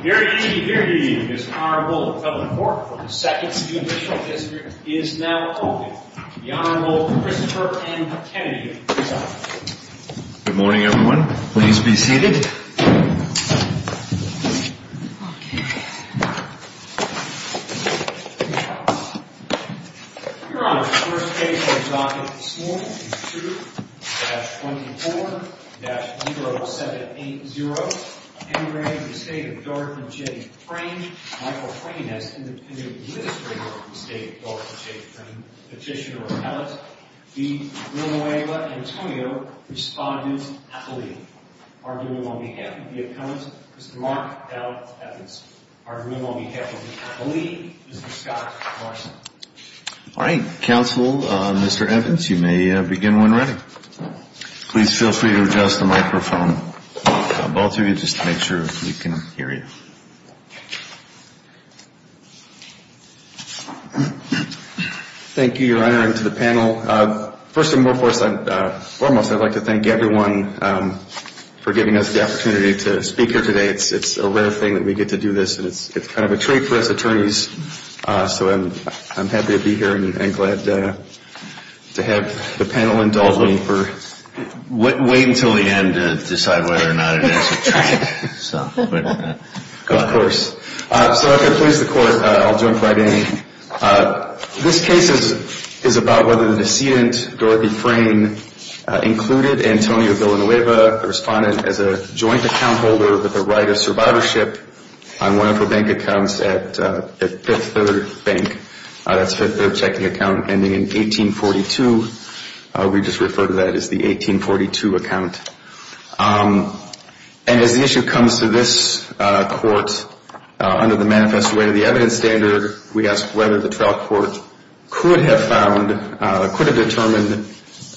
Here he, here he, is Honorable Kevin Fork from the 2nd City Additional District, is now open. The Honorable Christopher M. Kennedy is up. Good morning everyone. Please be seated. Your Honor, the first case on the docket this morning is 2-24-0780. The State of Dorothy J. Frain, Petitioner or Appellate. The Rumawewa Antonio Respondent's Appellee. Arguing on behalf of the Appellant, Mr. Mark L. Evans. Arguing on behalf of the Appellee, Mr. Scott Carson. Alright, Counsel, Mr. Evans, you may begin when ready. Please feel free to adjust the microphone. Both of you, just to make sure we can hear you. Thank you, Your Honor, and to the panel. First and foremost, I'd like to thank everyone for giving us the opportunity to speak here today. It's a rare thing that we get to do this and it's kind of a treat for us attorneys. So I'm happy to be here and glad to have the panel indulging for... Wait until the end to decide whether or not it is a treat. Of course. So if it pleases the Court, I'll jump right in. This case is about whether the decedent, Dorothy Frain, included Antonio Villanueva, the Respondent, as a joint account holder with the right of survivorship on one of her bank accounts at Fifth Third Bank. That's Fifth Third checking account ending in 1842. We just refer to that as the 1842 account. And as the issue comes to this court under the manifest way to the evidence standard, we ask whether the trial court could have found, could have determined,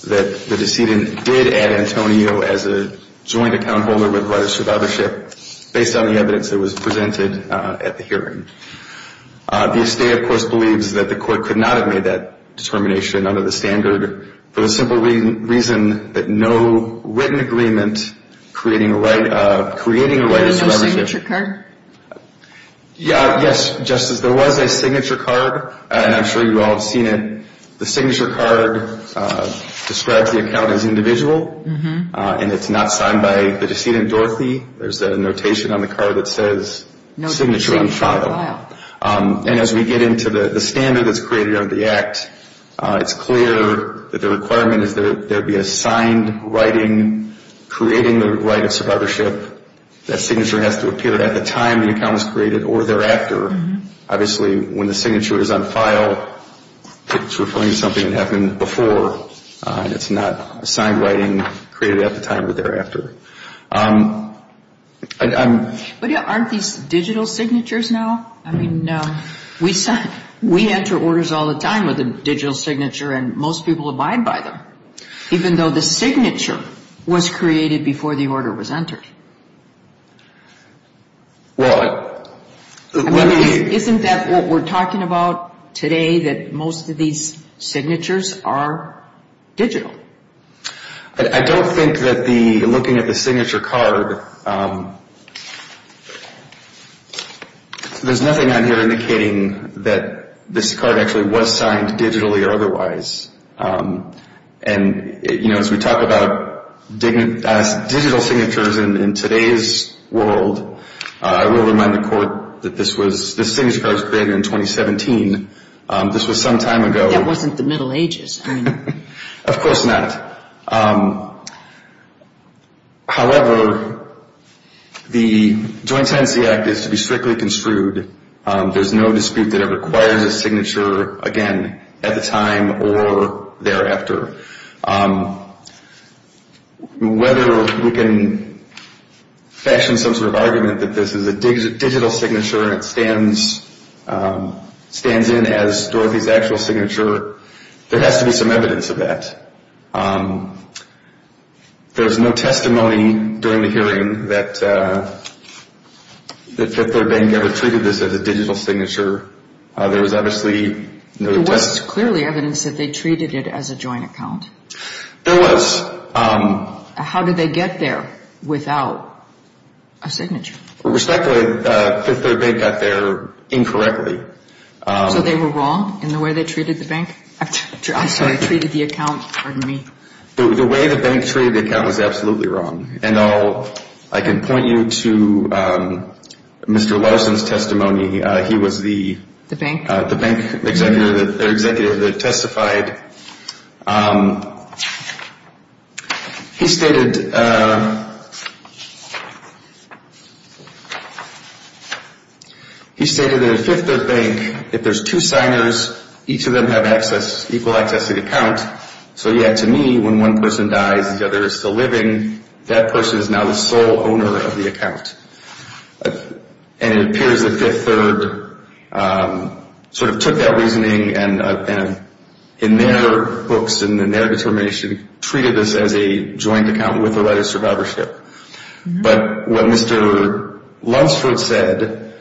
that the decedent did add Antonio as a joint account holder with the right of survivorship based on the evidence that was presented at the hearing. The estate, of course, believes that the court could not have made that determination under the standard for the simple reason that no written agreement creating a right of... There was no signature card? Yes, Justice. There was a signature card and I'm sure you all have seen it. The signature card describes the account as individual and it's not signed by the decedent, Dorothy. There's a notation on the card that says signature on file. And as we get into the standard that's created under the Act, it's clear that the requirement is that there be a signed writing creating the right of survivorship. That signature has to appear at the time the account was created or thereafter. Obviously, when the signature is on file, it's referring to something that happened before. It's not a signed writing created at the time or thereafter. But aren't these digital signatures now? I mean, we enter orders all the time with a digital signature and most people abide by them, even though the signature was created before the order was entered. Well, let me... Isn't that what we're talking about today, that most of these signatures are digital? I don't think that looking at the signature card, there's nothing on here indicating that this card actually was signed digitally or otherwise. And, you know, as we talk about digital signatures in today's world, I will remind the Court that this signature card was created in 2017. This was some time ago. That wasn't the Middle Ages. Of course not. However, the Joint Tenancy Act is to be strictly construed. There's no dispute that it requires a signature, again, at the time or thereafter. Whether we can fashion some sort of argument that this is a digital signature and it stands in as Dorothy's actual signature, there has to be some evidence of that. There was no testimony during the hearing that Fifth Third Bank ever treated this as a digital signature. There was obviously no... There was clearly evidence that they treated it as a joint account. There was. How did they get there without a signature? Respectfully, Fifth Third Bank got there incorrectly. So they were wrong in the way they treated the bank? I'm sorry, treated the account. Pardon me. The way the bank treated the account was absolutely wrong. And I can point you to Mr. Larson's testimony. He was the bank executive that testified. He stated that at Fifth Third Bank, if there's two signers, each of them have equal access to the account. So, yeah, to me, when one person dies, the other is still living, that person is now the sole owner of the account. And it appears that Fifth Third sort of took that reasoning and, in their books and in their determination, treated this as a joint account with or without a survivorship. But what Mr. Lunsford said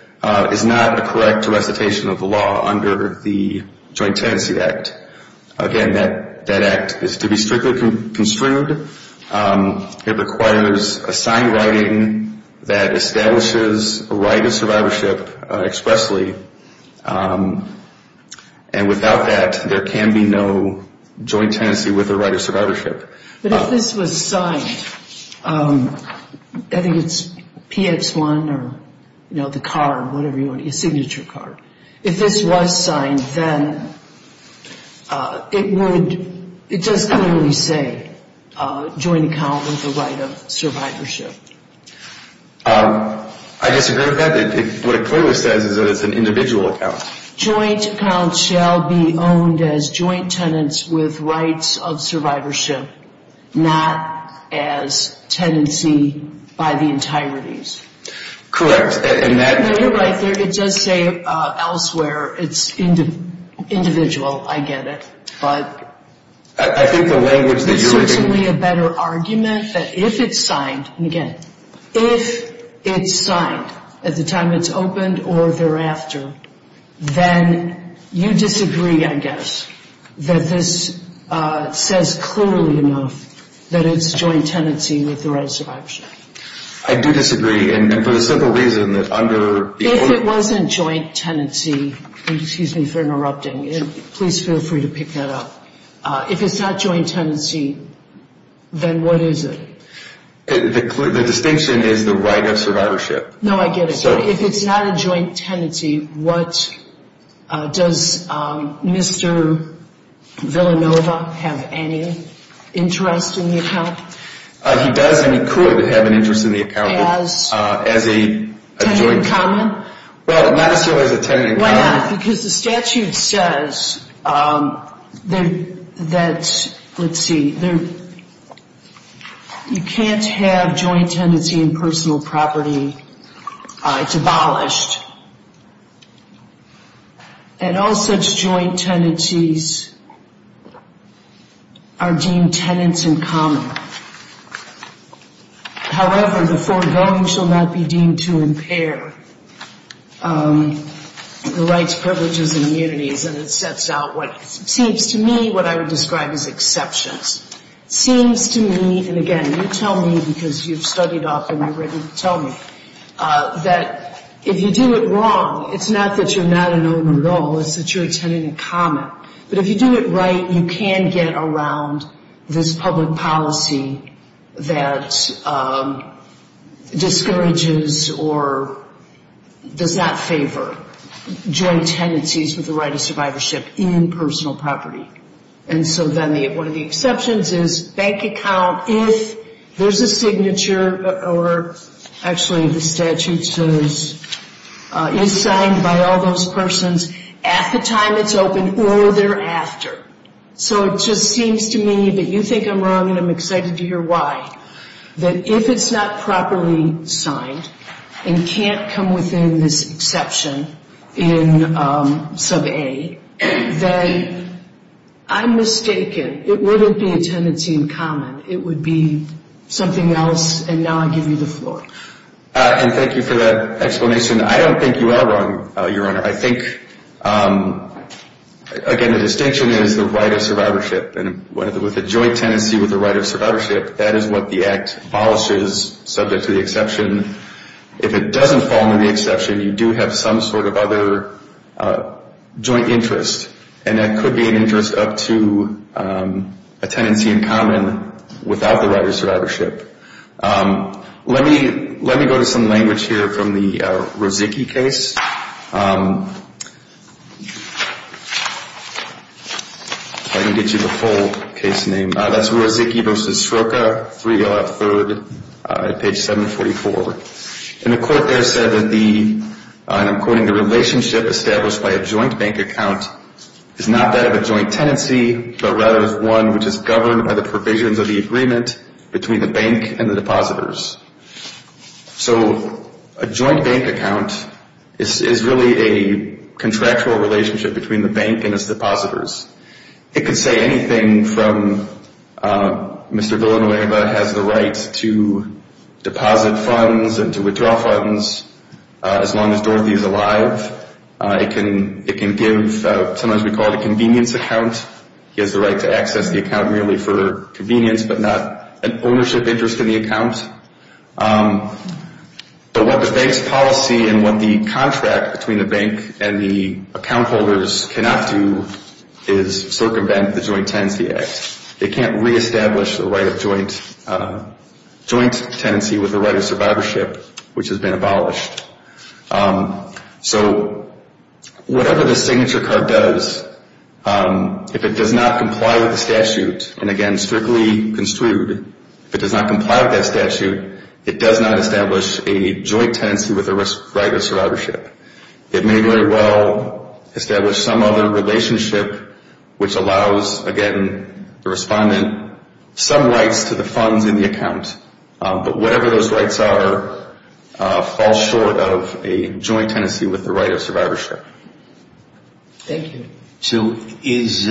is not a correct recitation of the law under the Joint Tenancy Act. Again, that act is to be strictly construed. It requires a signed writing that establishes a right of survivorship expressly. And without that, there can be no joint tenancy with a right of survivorship. But if this was signed, I think it's PX1 or, you know, the card, whatever you want to use, a signature card. If this was signed, then it would, it does clearly say joint account with a right of survivorship. I disagree with that. What it clearly says is that it's an individual account. Joint accounts shall be owned as joint tenants with rights of survivorship, not as tenancy by the entirety. Correct. You're right there. It does say elsewhere it's individual. I get it. But there's certainly a better argument that if it's signed, and again, if it's signed at the time it's opened or thereafter, then you disagree, I guess, that this says clearly enough that it's joint tenancy with the right of survivorship. I do disagree. And for the simple reason that under the – If it wasn't joint tenancy – excuse me for interrupting. Please feel free to pick that up. If it's not joint tenancy, then what is it? The distinction is the right of survivorship. No, I get it. So if it's not a joint tenancy, what – does Mr. Villanova have any interest in the account? He does and he could have an interest in the account as a joint – Tenant in common? Well, not necessarily as a tenant in common. Why not? Because the statute says that – let's see. You can't have joint tenancy in personal property. It's abolished. And all such joint tenancies are deemed tenants in common. However, the foregoing shall not be deemed to impair the rights, privileges, and immunities. And it sets out what seems to me what I would describe as exceptions. It seems to me – and again, you tell me because you've studied often, you're ready to tell me – that if you do it wrong, it's not that you're not an owner at all, it's that you're a tenant in common. But if you do it right, you can get around this public policy that discourages or does not favor joint tenancies with the right of survivorship in personal property. And so then one of the exceptions is bank account, if there's a signature, or actually the statute says, is signed by all those persons at the time it's open or thereafter. So it just seems to me that you think I'm wrong and I'm excited to hear why. That if it's not properly signed and can't come within this exception in sub A, then I'm mistaken. It wouldn't be a tenancy in common. It would be something else, and now I give you the floor. And thank you for that explanation. I don't think you are wrong, Your Honor. I think, again, the distinction is the right of survivorship. And with a joint tenancy with the right of survivorship, that is what the Act abolishes, subject to the exception. If it doesn't fall into the exception, you do have some sort of other joint interest, and that could be an interest up to a tenancy in common without the right of survivorship. Let me go to some language here from the Rozicki case. If I can get you the full case name. That's Rozicki v. Sroka, 303rd, page 744. And the court there said that the, and I'm quoting, the relationship established by a joint bank account is not that of a joint tenancy, but rather is one which is governed by the provisions of the agreement between the bank and the depositors. So a joint bank account is really a contractual relationship between the bank and its depositors. It could say anything from Mr. Villanueva has the right to deposit funds and to withdraw funds as long as Dorothy is alive. It can give, sometimes we call it a convenience account. He has the right to access the account merely for convenience, but not an ownership interest in the account. So what the bank's policy and what the contract between the bank and the account holders cannot do is circumvent the Joint Tenancy Act. They can't reestablish the right of joint tenancy with the right of survivorship, which has been abolished. So whatever the signature card does, if it does not comply with the statute, and again, strictly construed, if it does not comply with that statute, it does not establish a joint tenancy with the right of survivorship. It may very well establish some other relationship which allows, again, the respondent some rights to the funds in the account, but whatever those rights are fall short of a joint tenancy with the right of survivorship. Thank you. So is,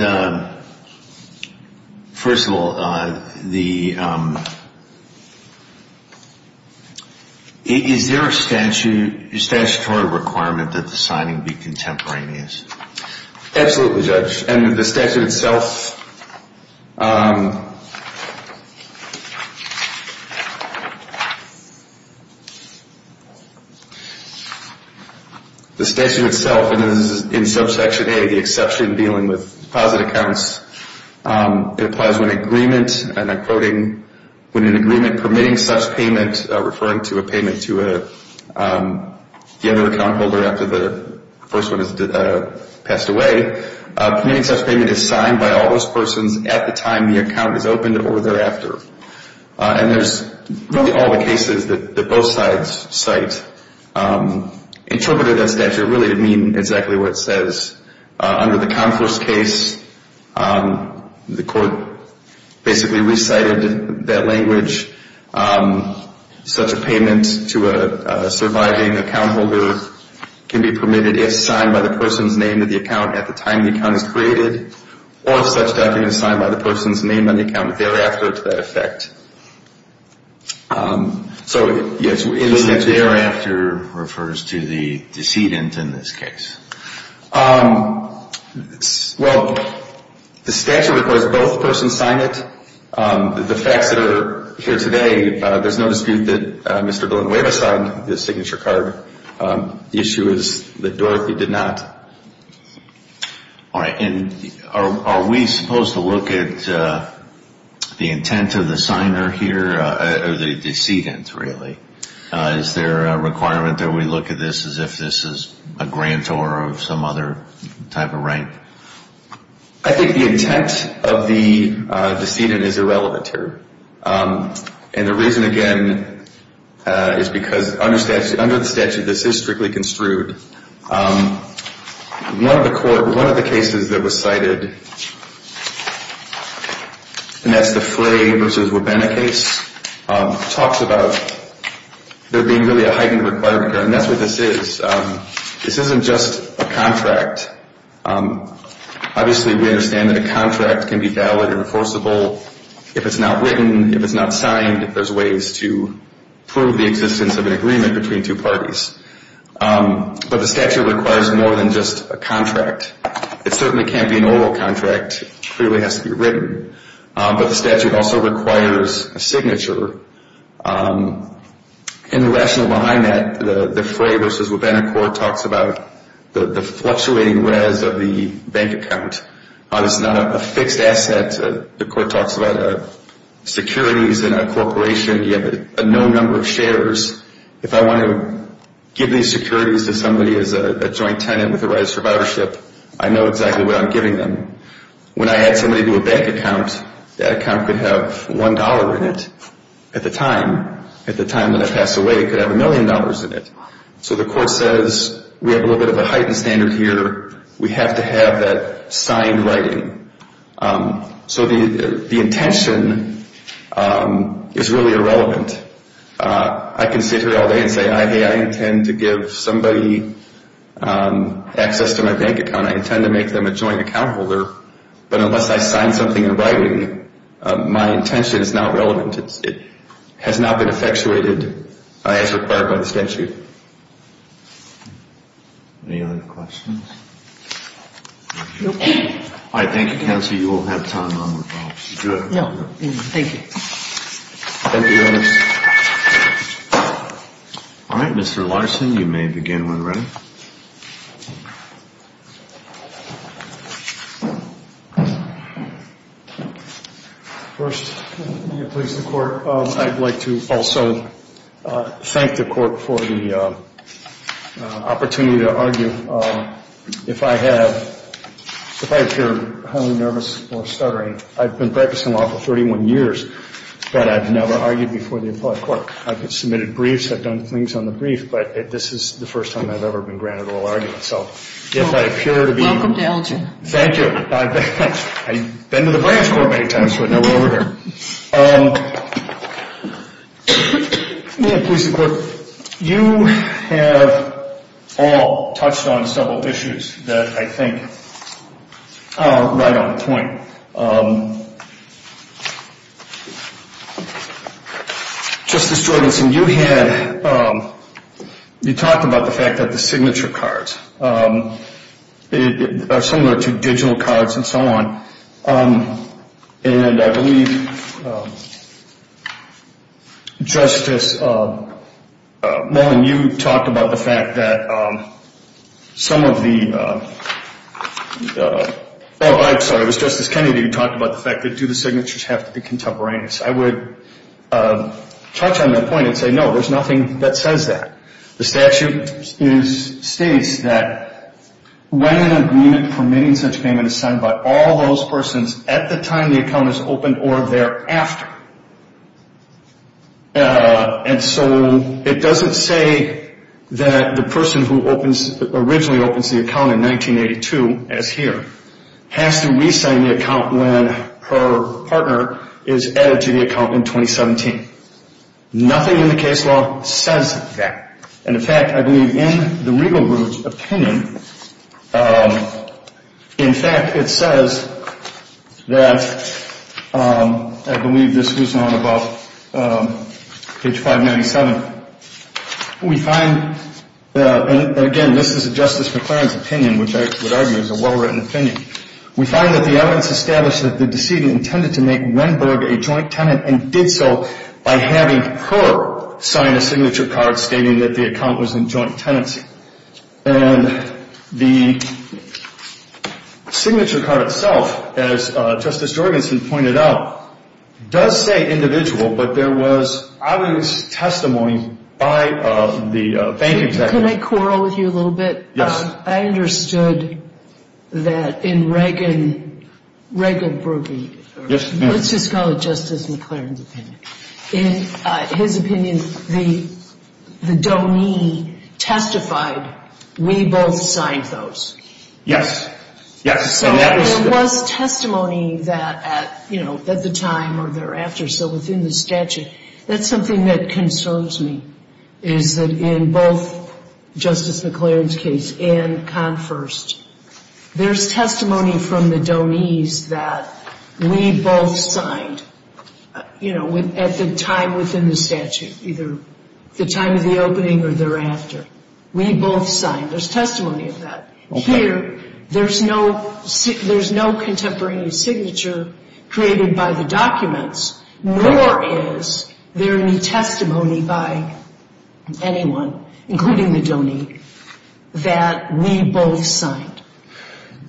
first of all, is there a statutory requirement that the signing be contemporaneous? Absolutely, Judge. And the statute itself, and this is in subsection A, the exception dealing with deposit accounts, it applies when an agreement, and I'm quoting, when an agreement permitting such payment, referring to a payment to the other account holder after the first one has passed away, permitting such payment is signed by all those persons at the time the account is opened or thereafter. And there's really all the cases that both sides cite. Interpreting that statute really didn't mean exactly what it says. Under the Conforce case, the court basically recited that language. Such a payment to a surviving account holder can be permitted if signed by the person's name in the account at the time the account is created or if such document is signed by the person's name on the account thereafter to that effect. So, yes. And the thereafter refers to the decedent in this case? Well, the statute requires both persons sign it. The facts that are here today, there's no dispute that Mr. Villanueva signed the signature card. The issue is that Dorothy did not. All right. And are we supposed to look at the intent of the signer here or the decedent, really? Is there a requirement that we look at this as if this is a grant or some other type of right? I think the intent of the decedent is irrelevant here. And the reason, again, is because under the statute, this is strictly construed. One of the cases that was cited, and that's the Flay v. Webena case, talks about there being really a heightened requirement here, and that's what this is. This isn't just a contract. Obviously, we understand that a contract can be valid, enforceable. If it's not written, if it's not signed, there's ways to prove the existence of an agreement between two parties. But the statute requires more than just a contract. It certainly can't be an oral contract. It clearly has to be written. But the statute also requires a signature. And the rationale behind that, the Flay v. Webena court talks about the fluctuating res of the bank account. It's not a fixed asset. The court talks about securities in a corporation. You have a known number of shares. If I want to give these securities to somebody as a joint tenant with the right of survivorship, I know exactly what I'm giving them. When I add somebody to a bank account, that account could have $1 in it at the time. At the time when they pass away, it could have $1 million in it. So the court says we have a little bit of a heightened standard here. We have to have that signed writing. So the intention is really irrelevant. I can sit here all day and say, hey, I intend to give somebody access to my bank account. I intend to make them a joint account holder. But unless I sign something in writing, my intention is not relevant. It has not been effectuated as required by the statute. Any other questions? No. All right. Thank you, counsel. You will have time. Good. Thank you. Thank you, Ernest. All right. Mr. Larson, you may begin when ready. First, please, the court. I'd like to also thank the court for the opportunity to argue. If I appear highly nervous or stuttering, I've been practicing law for 31 years, but I've never argued before the appellate court. I've submitted briefs. I've done things on the brief. But this is the first time I've ever been granted oral argument. Welcome to Elgin. Thank you. I've been to the branch court many times, but no oral argument. Please, the court. You have all touched on several issues that I think are right on point. Justice Jordansen, you talked about the fact that the signature cards are similar to digital cards and so on. And I believe Justice Mullen, you talked about the fact that some of the – oh, I'm sorry, it was Justice Kennedy who talked about the fact that do the signatures have to be contemporaneous. I would touch on that point and say, no, there's nothing that says that. The statute states that when an agreement permitting such payment is signed by all those persons at the time the account is opened or thereafter. And so it doesn't say that the person who originally opens the account in 1982, as here, has to re-sign the account when her partner is added to the account in 2017. Nothing in the case law says that. And, in fact, I believe in the Regal Group's opinion, in fact, it says that – I believe this was on about page 597. We find – and, again, this is a Justice McClaren's opinion, which I would argue is a well-written opinion. We find that the evidence established that the decedent intended to make Wenberg a joint tenant and did so by having her sign a signature card stating that the account was in joint tenancy. And the signature card itself, as Justice Jorgensen pointed out, does say individual, but there was obvious testimony by the banking technician. Can I quarrel with you a little bit? Yes. I understood that in Reagan – Regal Group – Yes, ma'am. Let's just call it Justice McClaren's opinion. In his opinion, the donee testified, we both signed those. Yes. Yes. So there was testimony that, you know, at the time or thereafter, so within the statute. That's something that concerns me, is that in both Justice McClaren's case and Confirst, there's testimony from the donees that we both signed, you know, at the time within the statute, either the time of the opening or thereafter. We both signed. There's testimony of that. Here, there's no contemporary signature created by the documents, nor is there any testimony by anyone, including the donee, that we both signed.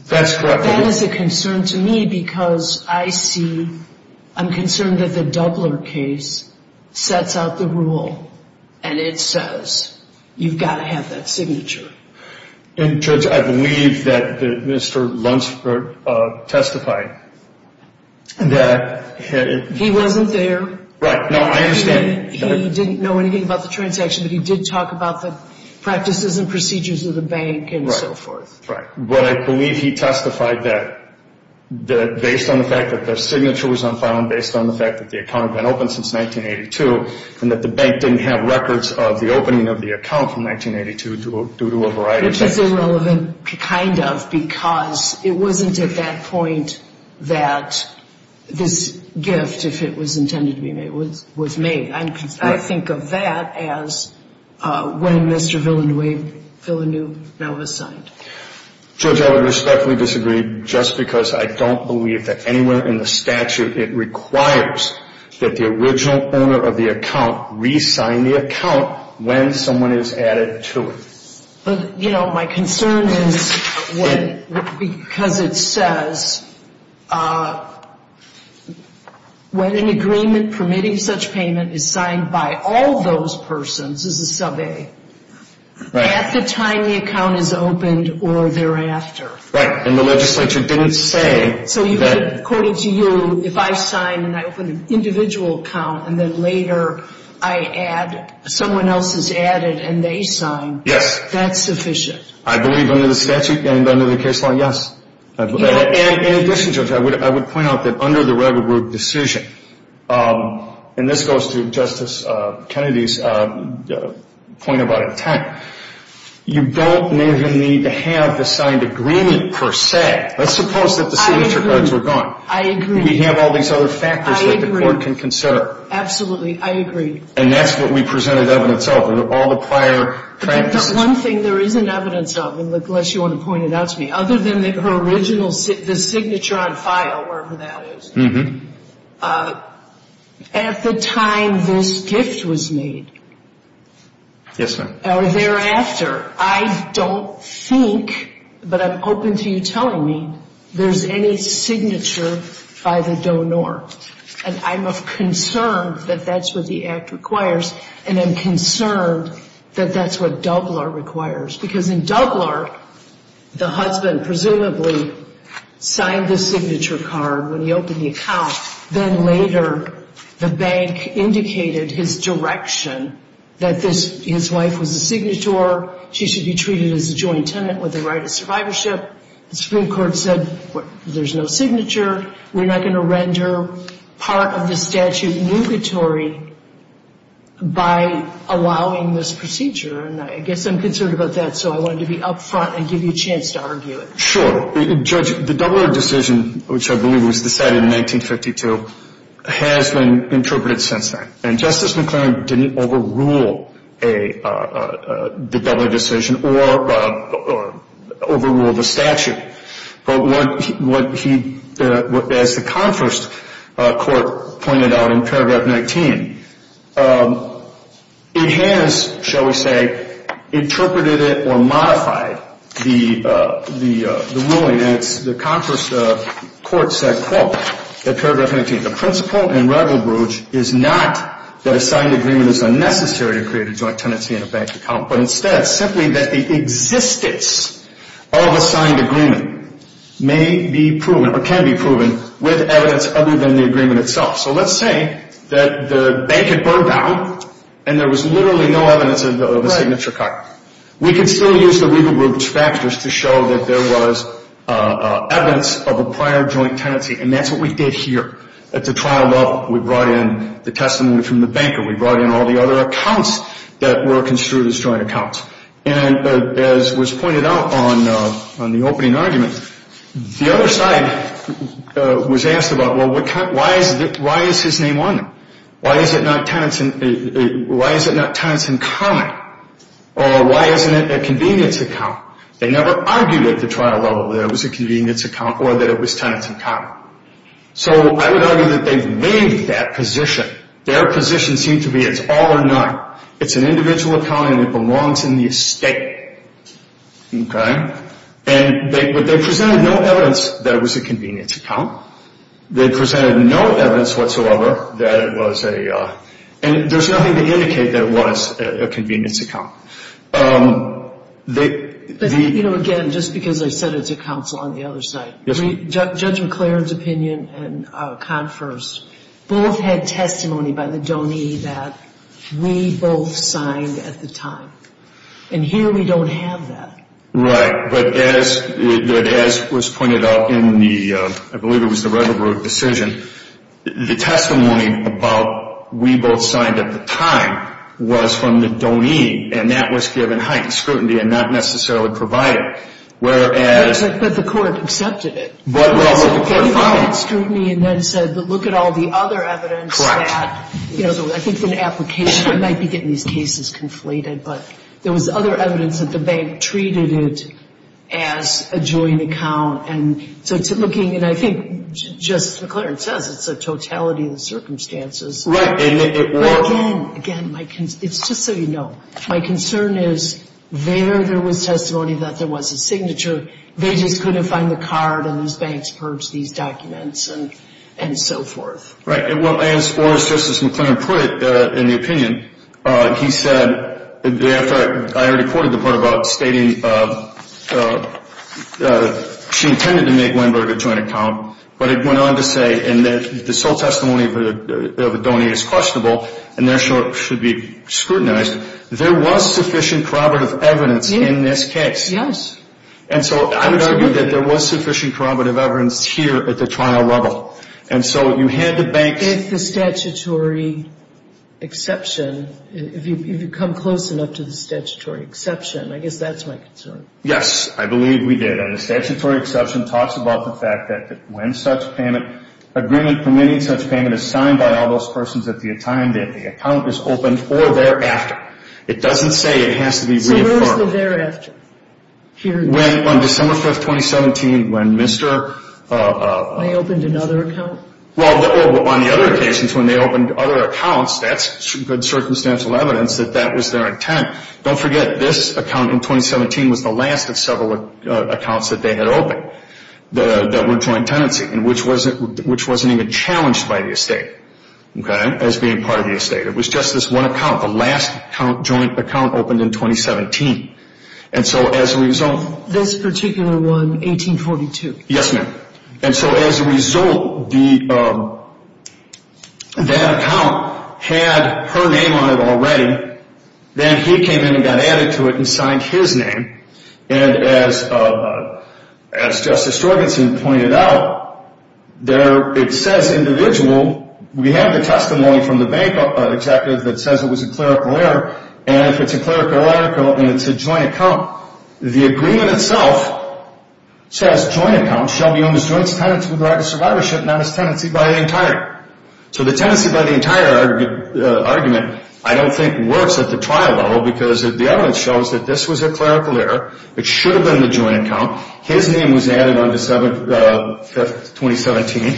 That's correct. That is a concern to me because I see – I'm concerned that the Dubler case sets out the rule and it says you've got to have that signature. And, Judge, I believe that Mr. Lunsford testified that – He wasn't there. Right. No, I understand. He didn't know anything about the transaction, but he did talk about the practices and procedures of the bank and so forth. Right. But I believe he testified that based on the fact that the signature was unfound, based on the fact that the account had been open since 1982 and that the bank didn't have records of the opening of the account from 1982 due to a variety of things. Which is irrelevant, kind of, because it wasn't at that point that this gift, if it was intended to be made, was made. I think of that as when Mr. Villanueva signed. Judge, I would respectfully disagree just because I don't believe that anywhere in the statute it requires that the original owner of the account re-sign the account when someone is added to it. But, you know, my concern is because it says when an agreement permitting such payment is signed by all those persons, this is sub-A, at the time the account is opened or thereafter. Right. And the legislature didn't say that – According to you, if I sign and I open an individual account and then later I add, someone else is added and they sign. Yes. That's sufficient. I believe under the statute and under the case law, yes. In addition, Judge, I would point out that under the Redwood Group decision, and this goes to Justice Kennedy's point about intent, you don't need to have the signed agreement per se. Let's suppose that the signature cards were gone. I agree. We have all these other factors that the court can consider. I agree. And that's what we presented evidence of in all the prior practices. The one thing there isn't evidence of, unless you want to point it out to me, other than her original signature on file, wherever that is, at the time this gift was made. Yes, ma'am. Or thereafter. I don't think, but I'm open to you telling me, there's any signature by the donor. And I'm of concern that that's what the Act requires, and I'm concerned that that's what Dubler requires. Because in Dubler, the husband presumably signed the signature card when he opened the account. Then later, the bank indicated his direction that his wife was a signator, she should be treated as a joint tenant with the right of survivorship. The Supreme Court said, there's no signature. We're not going to render part of the statute nugatory by allowing this procedure. And I guess I'm concerned about that, so I wanted to be up front and give you a chance to argue it. Sure. Judge, the Dubler decision, which I believe was decided in 1952, has been interpreted since then. And Justice McClaren didn't overrule the Dubler decision or overrule the statute. But what he, as the Conferenced Court pointed out in paragraph 19, it has, shall we say, interpreted it or modified the ruling. And it's the Conferenced Court said, quote, at paragraph 19, the principle in Ravel-Bruge is not that a signed agreement is unnecessary to create a joint tenancy in a bank account, but instead simply that the existence of a signed agreement may be proven or can be proven with evidence other than the agreement itself. So let's say that the bank had burned down and there was literally no evidence of a signature cut. We could still use the Ravel-Bruge factors to show that there was evidence of a prior joint tenancy. And that's what we did here at the trial level. We brought in the testimony from the banker. We brought in all the other accounts that were construed as joint accounts. And as was pointed out on the opening argument, the other side was asked about, well, why is his name on there? Why is it not tenants in common? Or why isn't it a convenience account? They never argued at the trial level that it was a convenience account or that it was tenants in common. So I would argue that they've made that position. Their position seemed to be it's all or none. It's an individual account and it belongs in the estate. Okay? And they presented no evidence that it was a convenience account. They presented no evidence whatsoever that it was a – and there's nothing to indicate that it was a convenience account. But, you know, again, just because I said it's a counsel on the other side. Yes, ma'am. Judge McLaren's opinion and Confer's both had testimony by the donee that we both signed at the time. And here we don't have that. Right. But as was pointed out in the – I believe it was the Ravel-Bruge decision, the testimony about we both signed at the time was from the donee, and that was given heightened scrutiny and not necessarily provided. Whereas – But the court accepted it. Well, the court filed it. It was given heightened scrutiny and then said look at all the other evidence that – I think an application might be getting these cases conflated, but there was other evidence that the bank treated it as a joint account. And so it's looking – and I think, just as McLaren says, it's a totality of the circumstances. Well, again, it's just so you know. My concern is there there was testimony that there was a signature. They just couldn't find the card and these banks purged these documents and so forth. Right. And as far as Justice McLaren put it in the opinion, he said – I already quoted the part about stating she intended to make Weinberg a joint account, but it went on to say in that the sole testimony of a donee is questionable and therefore should be scrutinized. There was sufficient corroborative evidence in this case. Yes. And so I would argue that there was sufficient corroborative evidence here at the trial level. And so you had the banks – With the statutory exception, if you come close enough to the statutory exception, I guess that's my concern. Yes, I believe we did. And the statutory exception talks about the fact that when such payment – agreement permitting such payment is signed by all those persons at the time that the account is opened or thereafter. It doesn't say it has to be reaffirmed. So where's the thereafter here? When on December 5, 2017, when Mr. – I opened another account? Well, on the other occasions when they opened other accounts, that's good circumstantial evidence that that was their intent. Don't forget, this account in 2017 was the last of several accounts that they had opened that were joint tenancy and which wasn't even challenged by the estate, okay, as being part of the estate. It was just this one account, the last joint account opened in 2017. And so as a result – This particular one, 1842. Yes, ma'am. And so as a result, that account had her name on it already. Then he came in and got added to it and signed his name. And as Justice Jorgensen pointed out, it says individual. We have the testimony from the bank executive that says it was a clerical error. And if it's a clerical error and it's a joint account, the agreement itself says joint account shall be owned as joint tenancy with the right of survivorship, not as tenancy by the entire. So the tenancy by the entire argument I don't think works at the trial level because the evidence shows that this was a clerical error. It should have been the joint account. His name was added on December 5, 2017.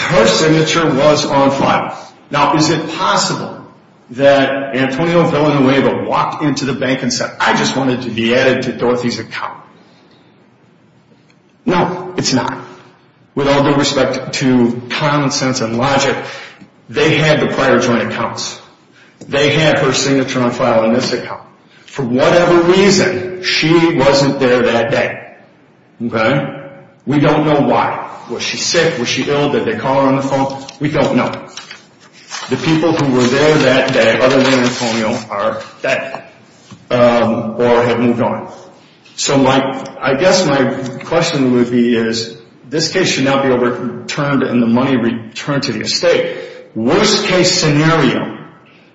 Her signature was on file. Now, is it possible that Antonio Villanueva walked into the bank and said, I just wanted to be added to Dorothy's account? No, it's not. With all due respect to common sense and logic, they had the prior joint accounts. They had her signature on file in this account. For whatever reason, she wasn't there that day. Okay? We don't know why. Was she sick? Was she ill? Did they call her on the phone? We don't know. The people who were there that day other than Antonio are dead or had moved on. So I guess my question would be is this case should not be overturned and the money returned to the estate. Worst case scenario,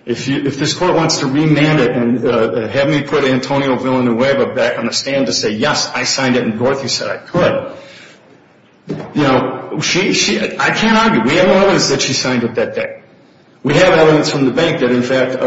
if this court wants to remand it and have me put Antonio Villanueva back on the stand to say, yes, I signed it and Dorothy said I could, you know, I can't argue. We have evidence that she signed it that day. We have evidence from the bank that, in fact,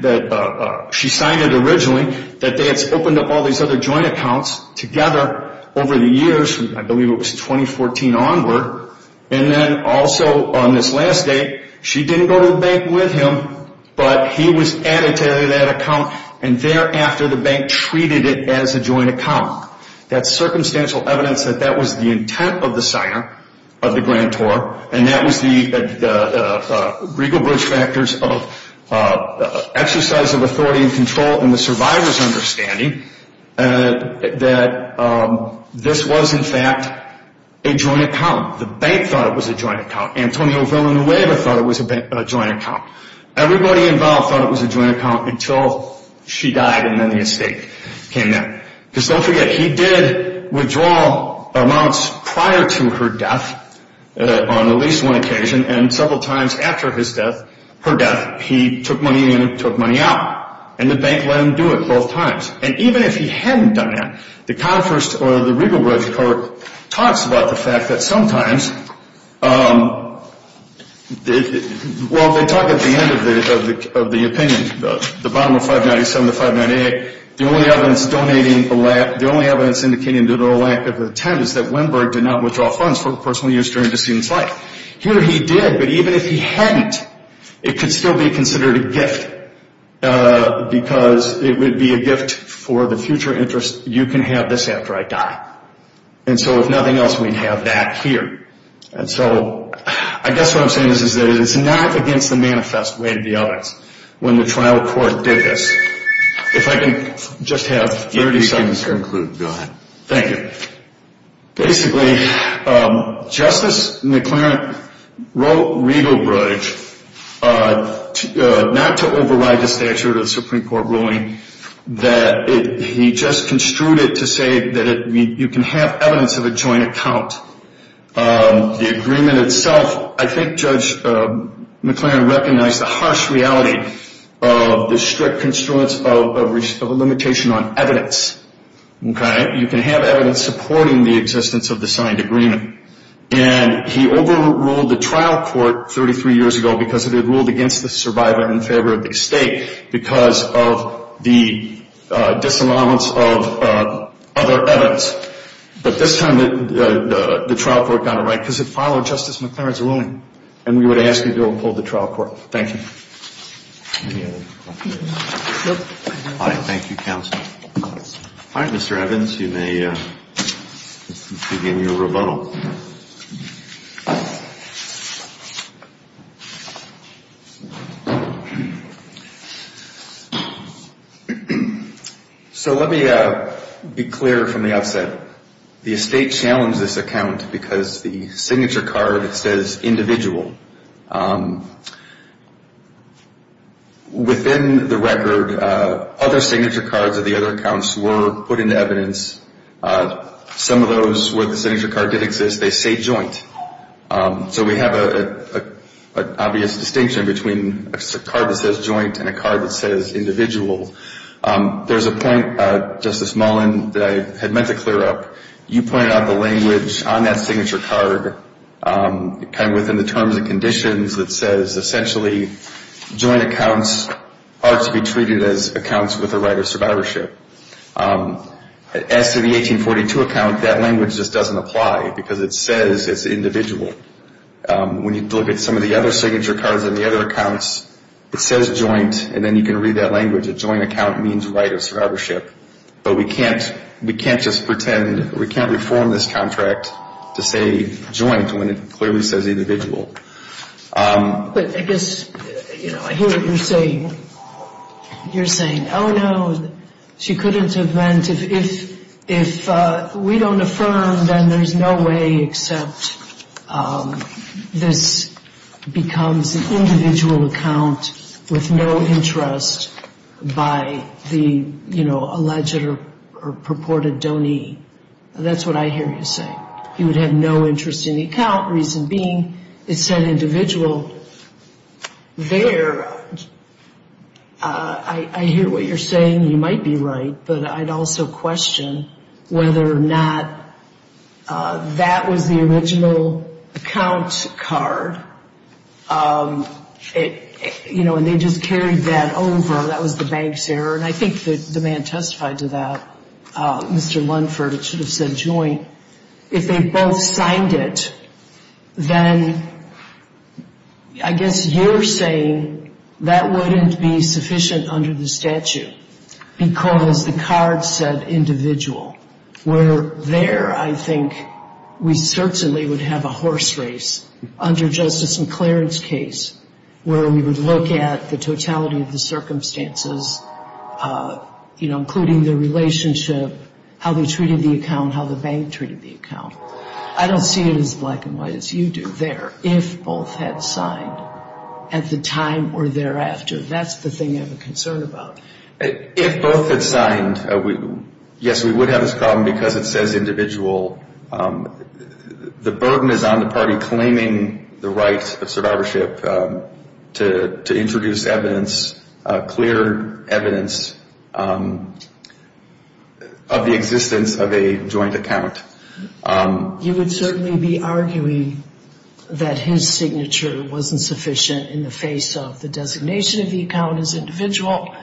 that she signed it originally, that they had opened up all these other joint accounts together over the years. I believe it was 2014 onward. And then also on this last day, she didn't go to the bank with him, but he was added to that account, and thereafter the bank treated it as a joint account. That's circumstantial evidence that that was the intent of the signer of the grand tour, and that was the regal bridge factors of exercise of authority and control in the survivor's understanding that this was, in fact, a joint account. The bank thought it was a joint account. Antonio Villanueva thought it was a joint account. Everybody involved thought it was a joint account until she died and then the estate came in. Because don't forget, he did withdraw amounts prior to her death on at least one occasion, and several times after his death, her death, he took money in and took money out, and the bank let him do it both times. And even if he hadn't done that, the Congress or the regal bridge court talks about the fact that sometimes, well, they talk at the end of the opinion, the bottom of 597 to 598, the only evidence indicating the lack of intent is that Wimberg did not withdraw funds for personal use during the student's life. Here he did, but even if he hadn't, it could still be considered a gift because it would be a gift for the future interest, you can have this after I die. And so if nothing else, we'd have that here. And so I guess what I'm saying is that it's not against the manifest way of the evidence when the trial court did this. If I can just have 30 seconds to conclude. Thank you. Basically, Justice McClaren wrote regal bridge not to override the statute of the Supreme Court ruling, that he just construed it to say that you can have evidence of a joint account. The agreement itself, I think Judge McClaren recognized the harsh reality of the strict construence of a limitation on evidence. You can have evidence supporting the existence of the signed agreement. And he overruled the trial court 33 years ago because it had ruled against the survivor in favor of the estate because of the disallowance of other evidence. But this time the trial court got it right because it followed Justice McClaren's ruling. And we would ask you to uphold the trial court. Thank you. Thank you, counsel. All right, Mr. Evans, you may begin your rebuttal. Thank you, counsel. So let me be clear from the outset. The estate challenged this account because the signature card says individual. Within the record, other signature cards of the other accounts were put into evidence. Some of those where the signature card did exist, they say joint. So we have an obvious distinction between a card that says joint and a card that says individual. There's a point, Justice Mullin, that I had meant to clear up. You pointed out the language on that signature card, kind of within the terms and conditions, that says essentially joint accounts are to be treated as accounts with a right of survivorship. As to the 1842 account, that language just doesn't apply because it says it's individual. When you look at some of the other signature cards in the other accounts, it says joint and then you can read that language. A joint account means right of survivorship. But we can't just pretend, we can't reform this contract to say joint when it clearly says individual. But I guess, you know, I hear what you're saying. You're saying, oh, no, she couldn't have meant if we don't affirm, then there's no way except this becomes an individual account with no interest by the, you know, alleged or purported donee. That's what I hear you saying. You would have no interest in the account, reason being it said individual there. I hear what you're saying. You might be right. But I'd also question whether or not that was the original account card. You know, and they just carried that over. That was the bank's error. And I think the man testified to that, Mr. Lundford, it should have said joint. If they both signed it, then I guess you're saying that wouldn't be sufficient under the statute. Because the card said individual. Where there, I think, we certainly would have a horse race. Under Justice McLaren's case, where we would look at the totality of the circumstances, you know, including the relationship, how they treated the account, how the bank treated the account. I don't see it as black and white as you do there. If both had signed at the time or thereafter, that's the thing I'm concerned about. If both had signed, yes, we would have this problem because it says individual. The burden is on the party claiming the right of survivorship to introduce evidence, clear evidence of the existence of a joint account. You would certainly be arguing that his signature wasn't sufficient in the face of the designation of the account as individual.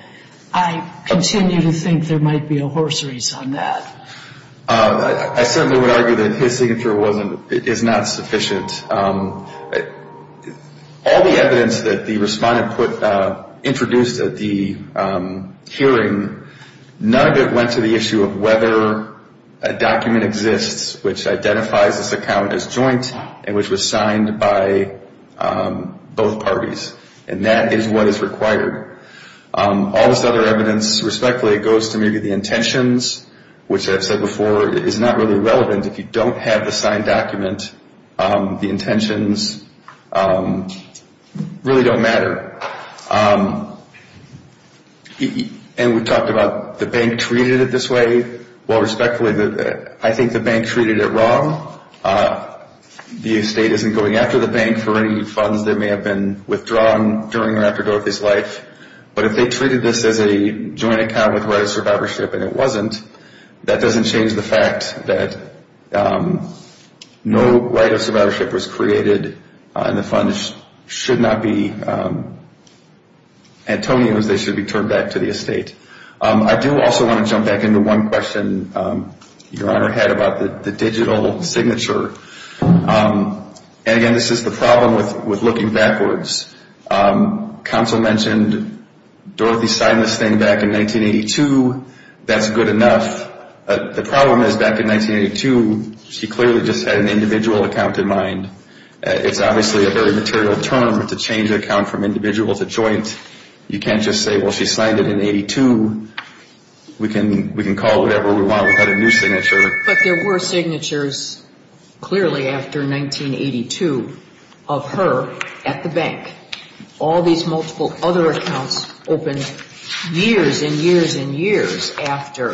I continue to think there might be a horse race on that. I certainly would argue that his signature is not sufficient. All the evidence that the respondent introduced at the hearing, none of it went to the issue of whether a document exists which identifies this account as joint and which was signed by both parties. And that is what is required. All this other evidence, respectfully, goes to maybe the intentions, which I've said before, is not really relevant if you don't have the signed document. The intentions really don't matter. And we talked about the bank treated it this way. Well, respectfully, I think the bank treated it wrong. The estate isn't going after the bank for any funds that may have been withdrawn during or after Dorothy's life. But if they treated this as a joint account with right of survivorship and it wasn't, that doesn't change the fact that no right of survivorship was created and the funds should not be Antonio's. They should be turned back to the estate. I do also want to jump back into one question Your Honor had about the digital signature. And, again, this is the problem with looking backwards. Counsel mentioned Dorothy signed this thing back in 1982. That's good enough. The problem is, back in 1982, she clearly just had an individual account in mind. It's obviously a very material term to change an account from individual to joint. You can't just say, well, she signed it in 1982. We can call it whatever we want. We've had a new signature. But there were signatures clearly after 1982 of her at the bank. All these multiple other accounts opened years and years and years after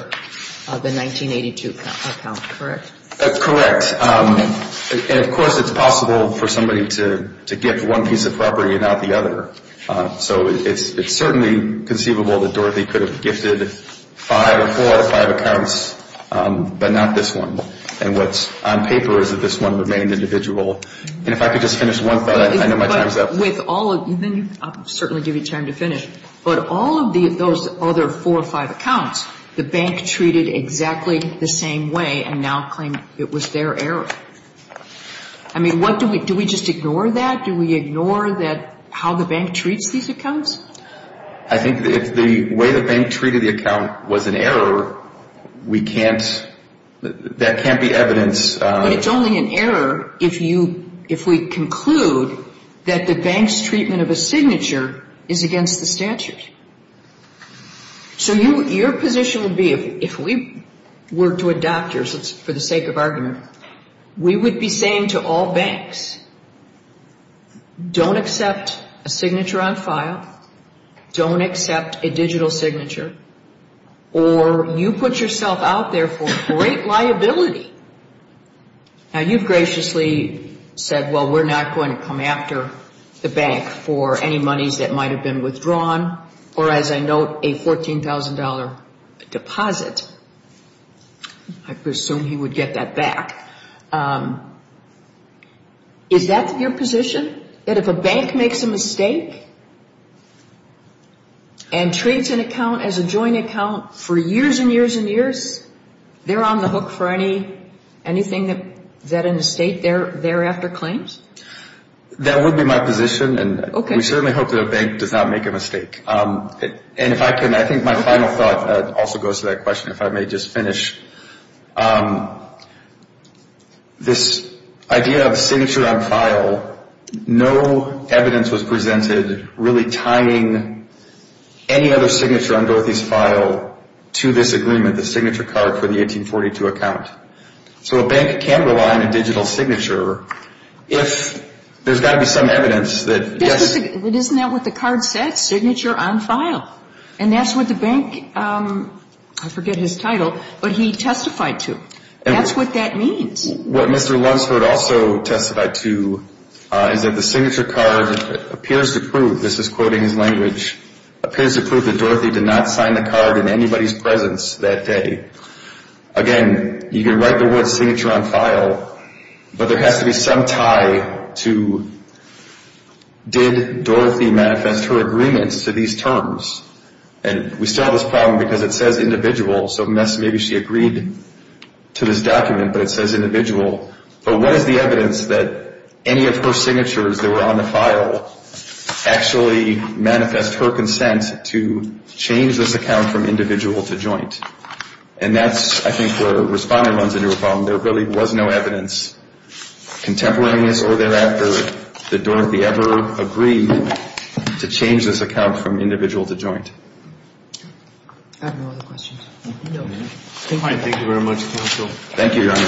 the 1982 account, correct? Correct. And, of course, it's possible for somebody to gift one piece of property and not the other. So it's certainly conceivable that Dorothy could have gifted five or four out of five accounts, but not this one. And what's on paper is that this one remained individual. And if I could just finish one thought, I know my time is up. I'll certainly give you time to finish. But all of those other four or five accounts, the bank treated exactly the same way and now claimed it was their error. I mean, do we just ignore that? Do we ignore how the bank treats these accounts? I think if the way the bank treated the account was an error, that can't be evidence. But it's only an error if we conclude that the bank's treatment of a signature is against the statute. So your position would be if we were to adopt yours, for the sake of argument, we would be saying to all banks, don't accept a signature on file, don't accept a digital signature, or you put yourself out there for great liability. Now, you've graciously said, well, we're not going to come after the bank for any monies that might have been withdrawn or, as I note, a $14,000 deposit. I presume he would get that back. Is that your position? That if a bank makes a mistake and treats an account as a joint account for years and years and years, they're on the hook for anything that an estate thereafter claims? That would be my position, and we certainly hope that a bank does not make a mistake. And if I can, I think my final thought also goes to that question, if I may just finish. This idea of a signature on file, no evidence was presented really tying any other signature on Dorothy's file to this agreement, the signature card for the 1842 account. So a bank can rely on a digital signature if there's got to be some evidence that yes. Isn't that what the card said, signature on file? And that's what the bank, I forget his title, but he testified to. That's what that means. What Mr. Lunsford also testified to is that the signature card appears to prove, this is quoting his language, appears to prove that Dorothy did not sign the card in anybody's presence that day. Again, you can write the word signature on file, but there has to be some tie to did Dorothy manifest her agreements to these terms? And we still have this problem because it says individual, so maybe she agreed to this document, but it says individual. But what is the evidence that any of her signatures that were on the file actually manifest her consent to change this account from individual to joint? And that's, I think, where Responder runs into a problem. There really was no evidence, contemporaneous or thereafter, that Dorothy ever agreed to change this account from individual to joint. I have no other questions. Thank you very much, counsel. Thank you, Your Honor.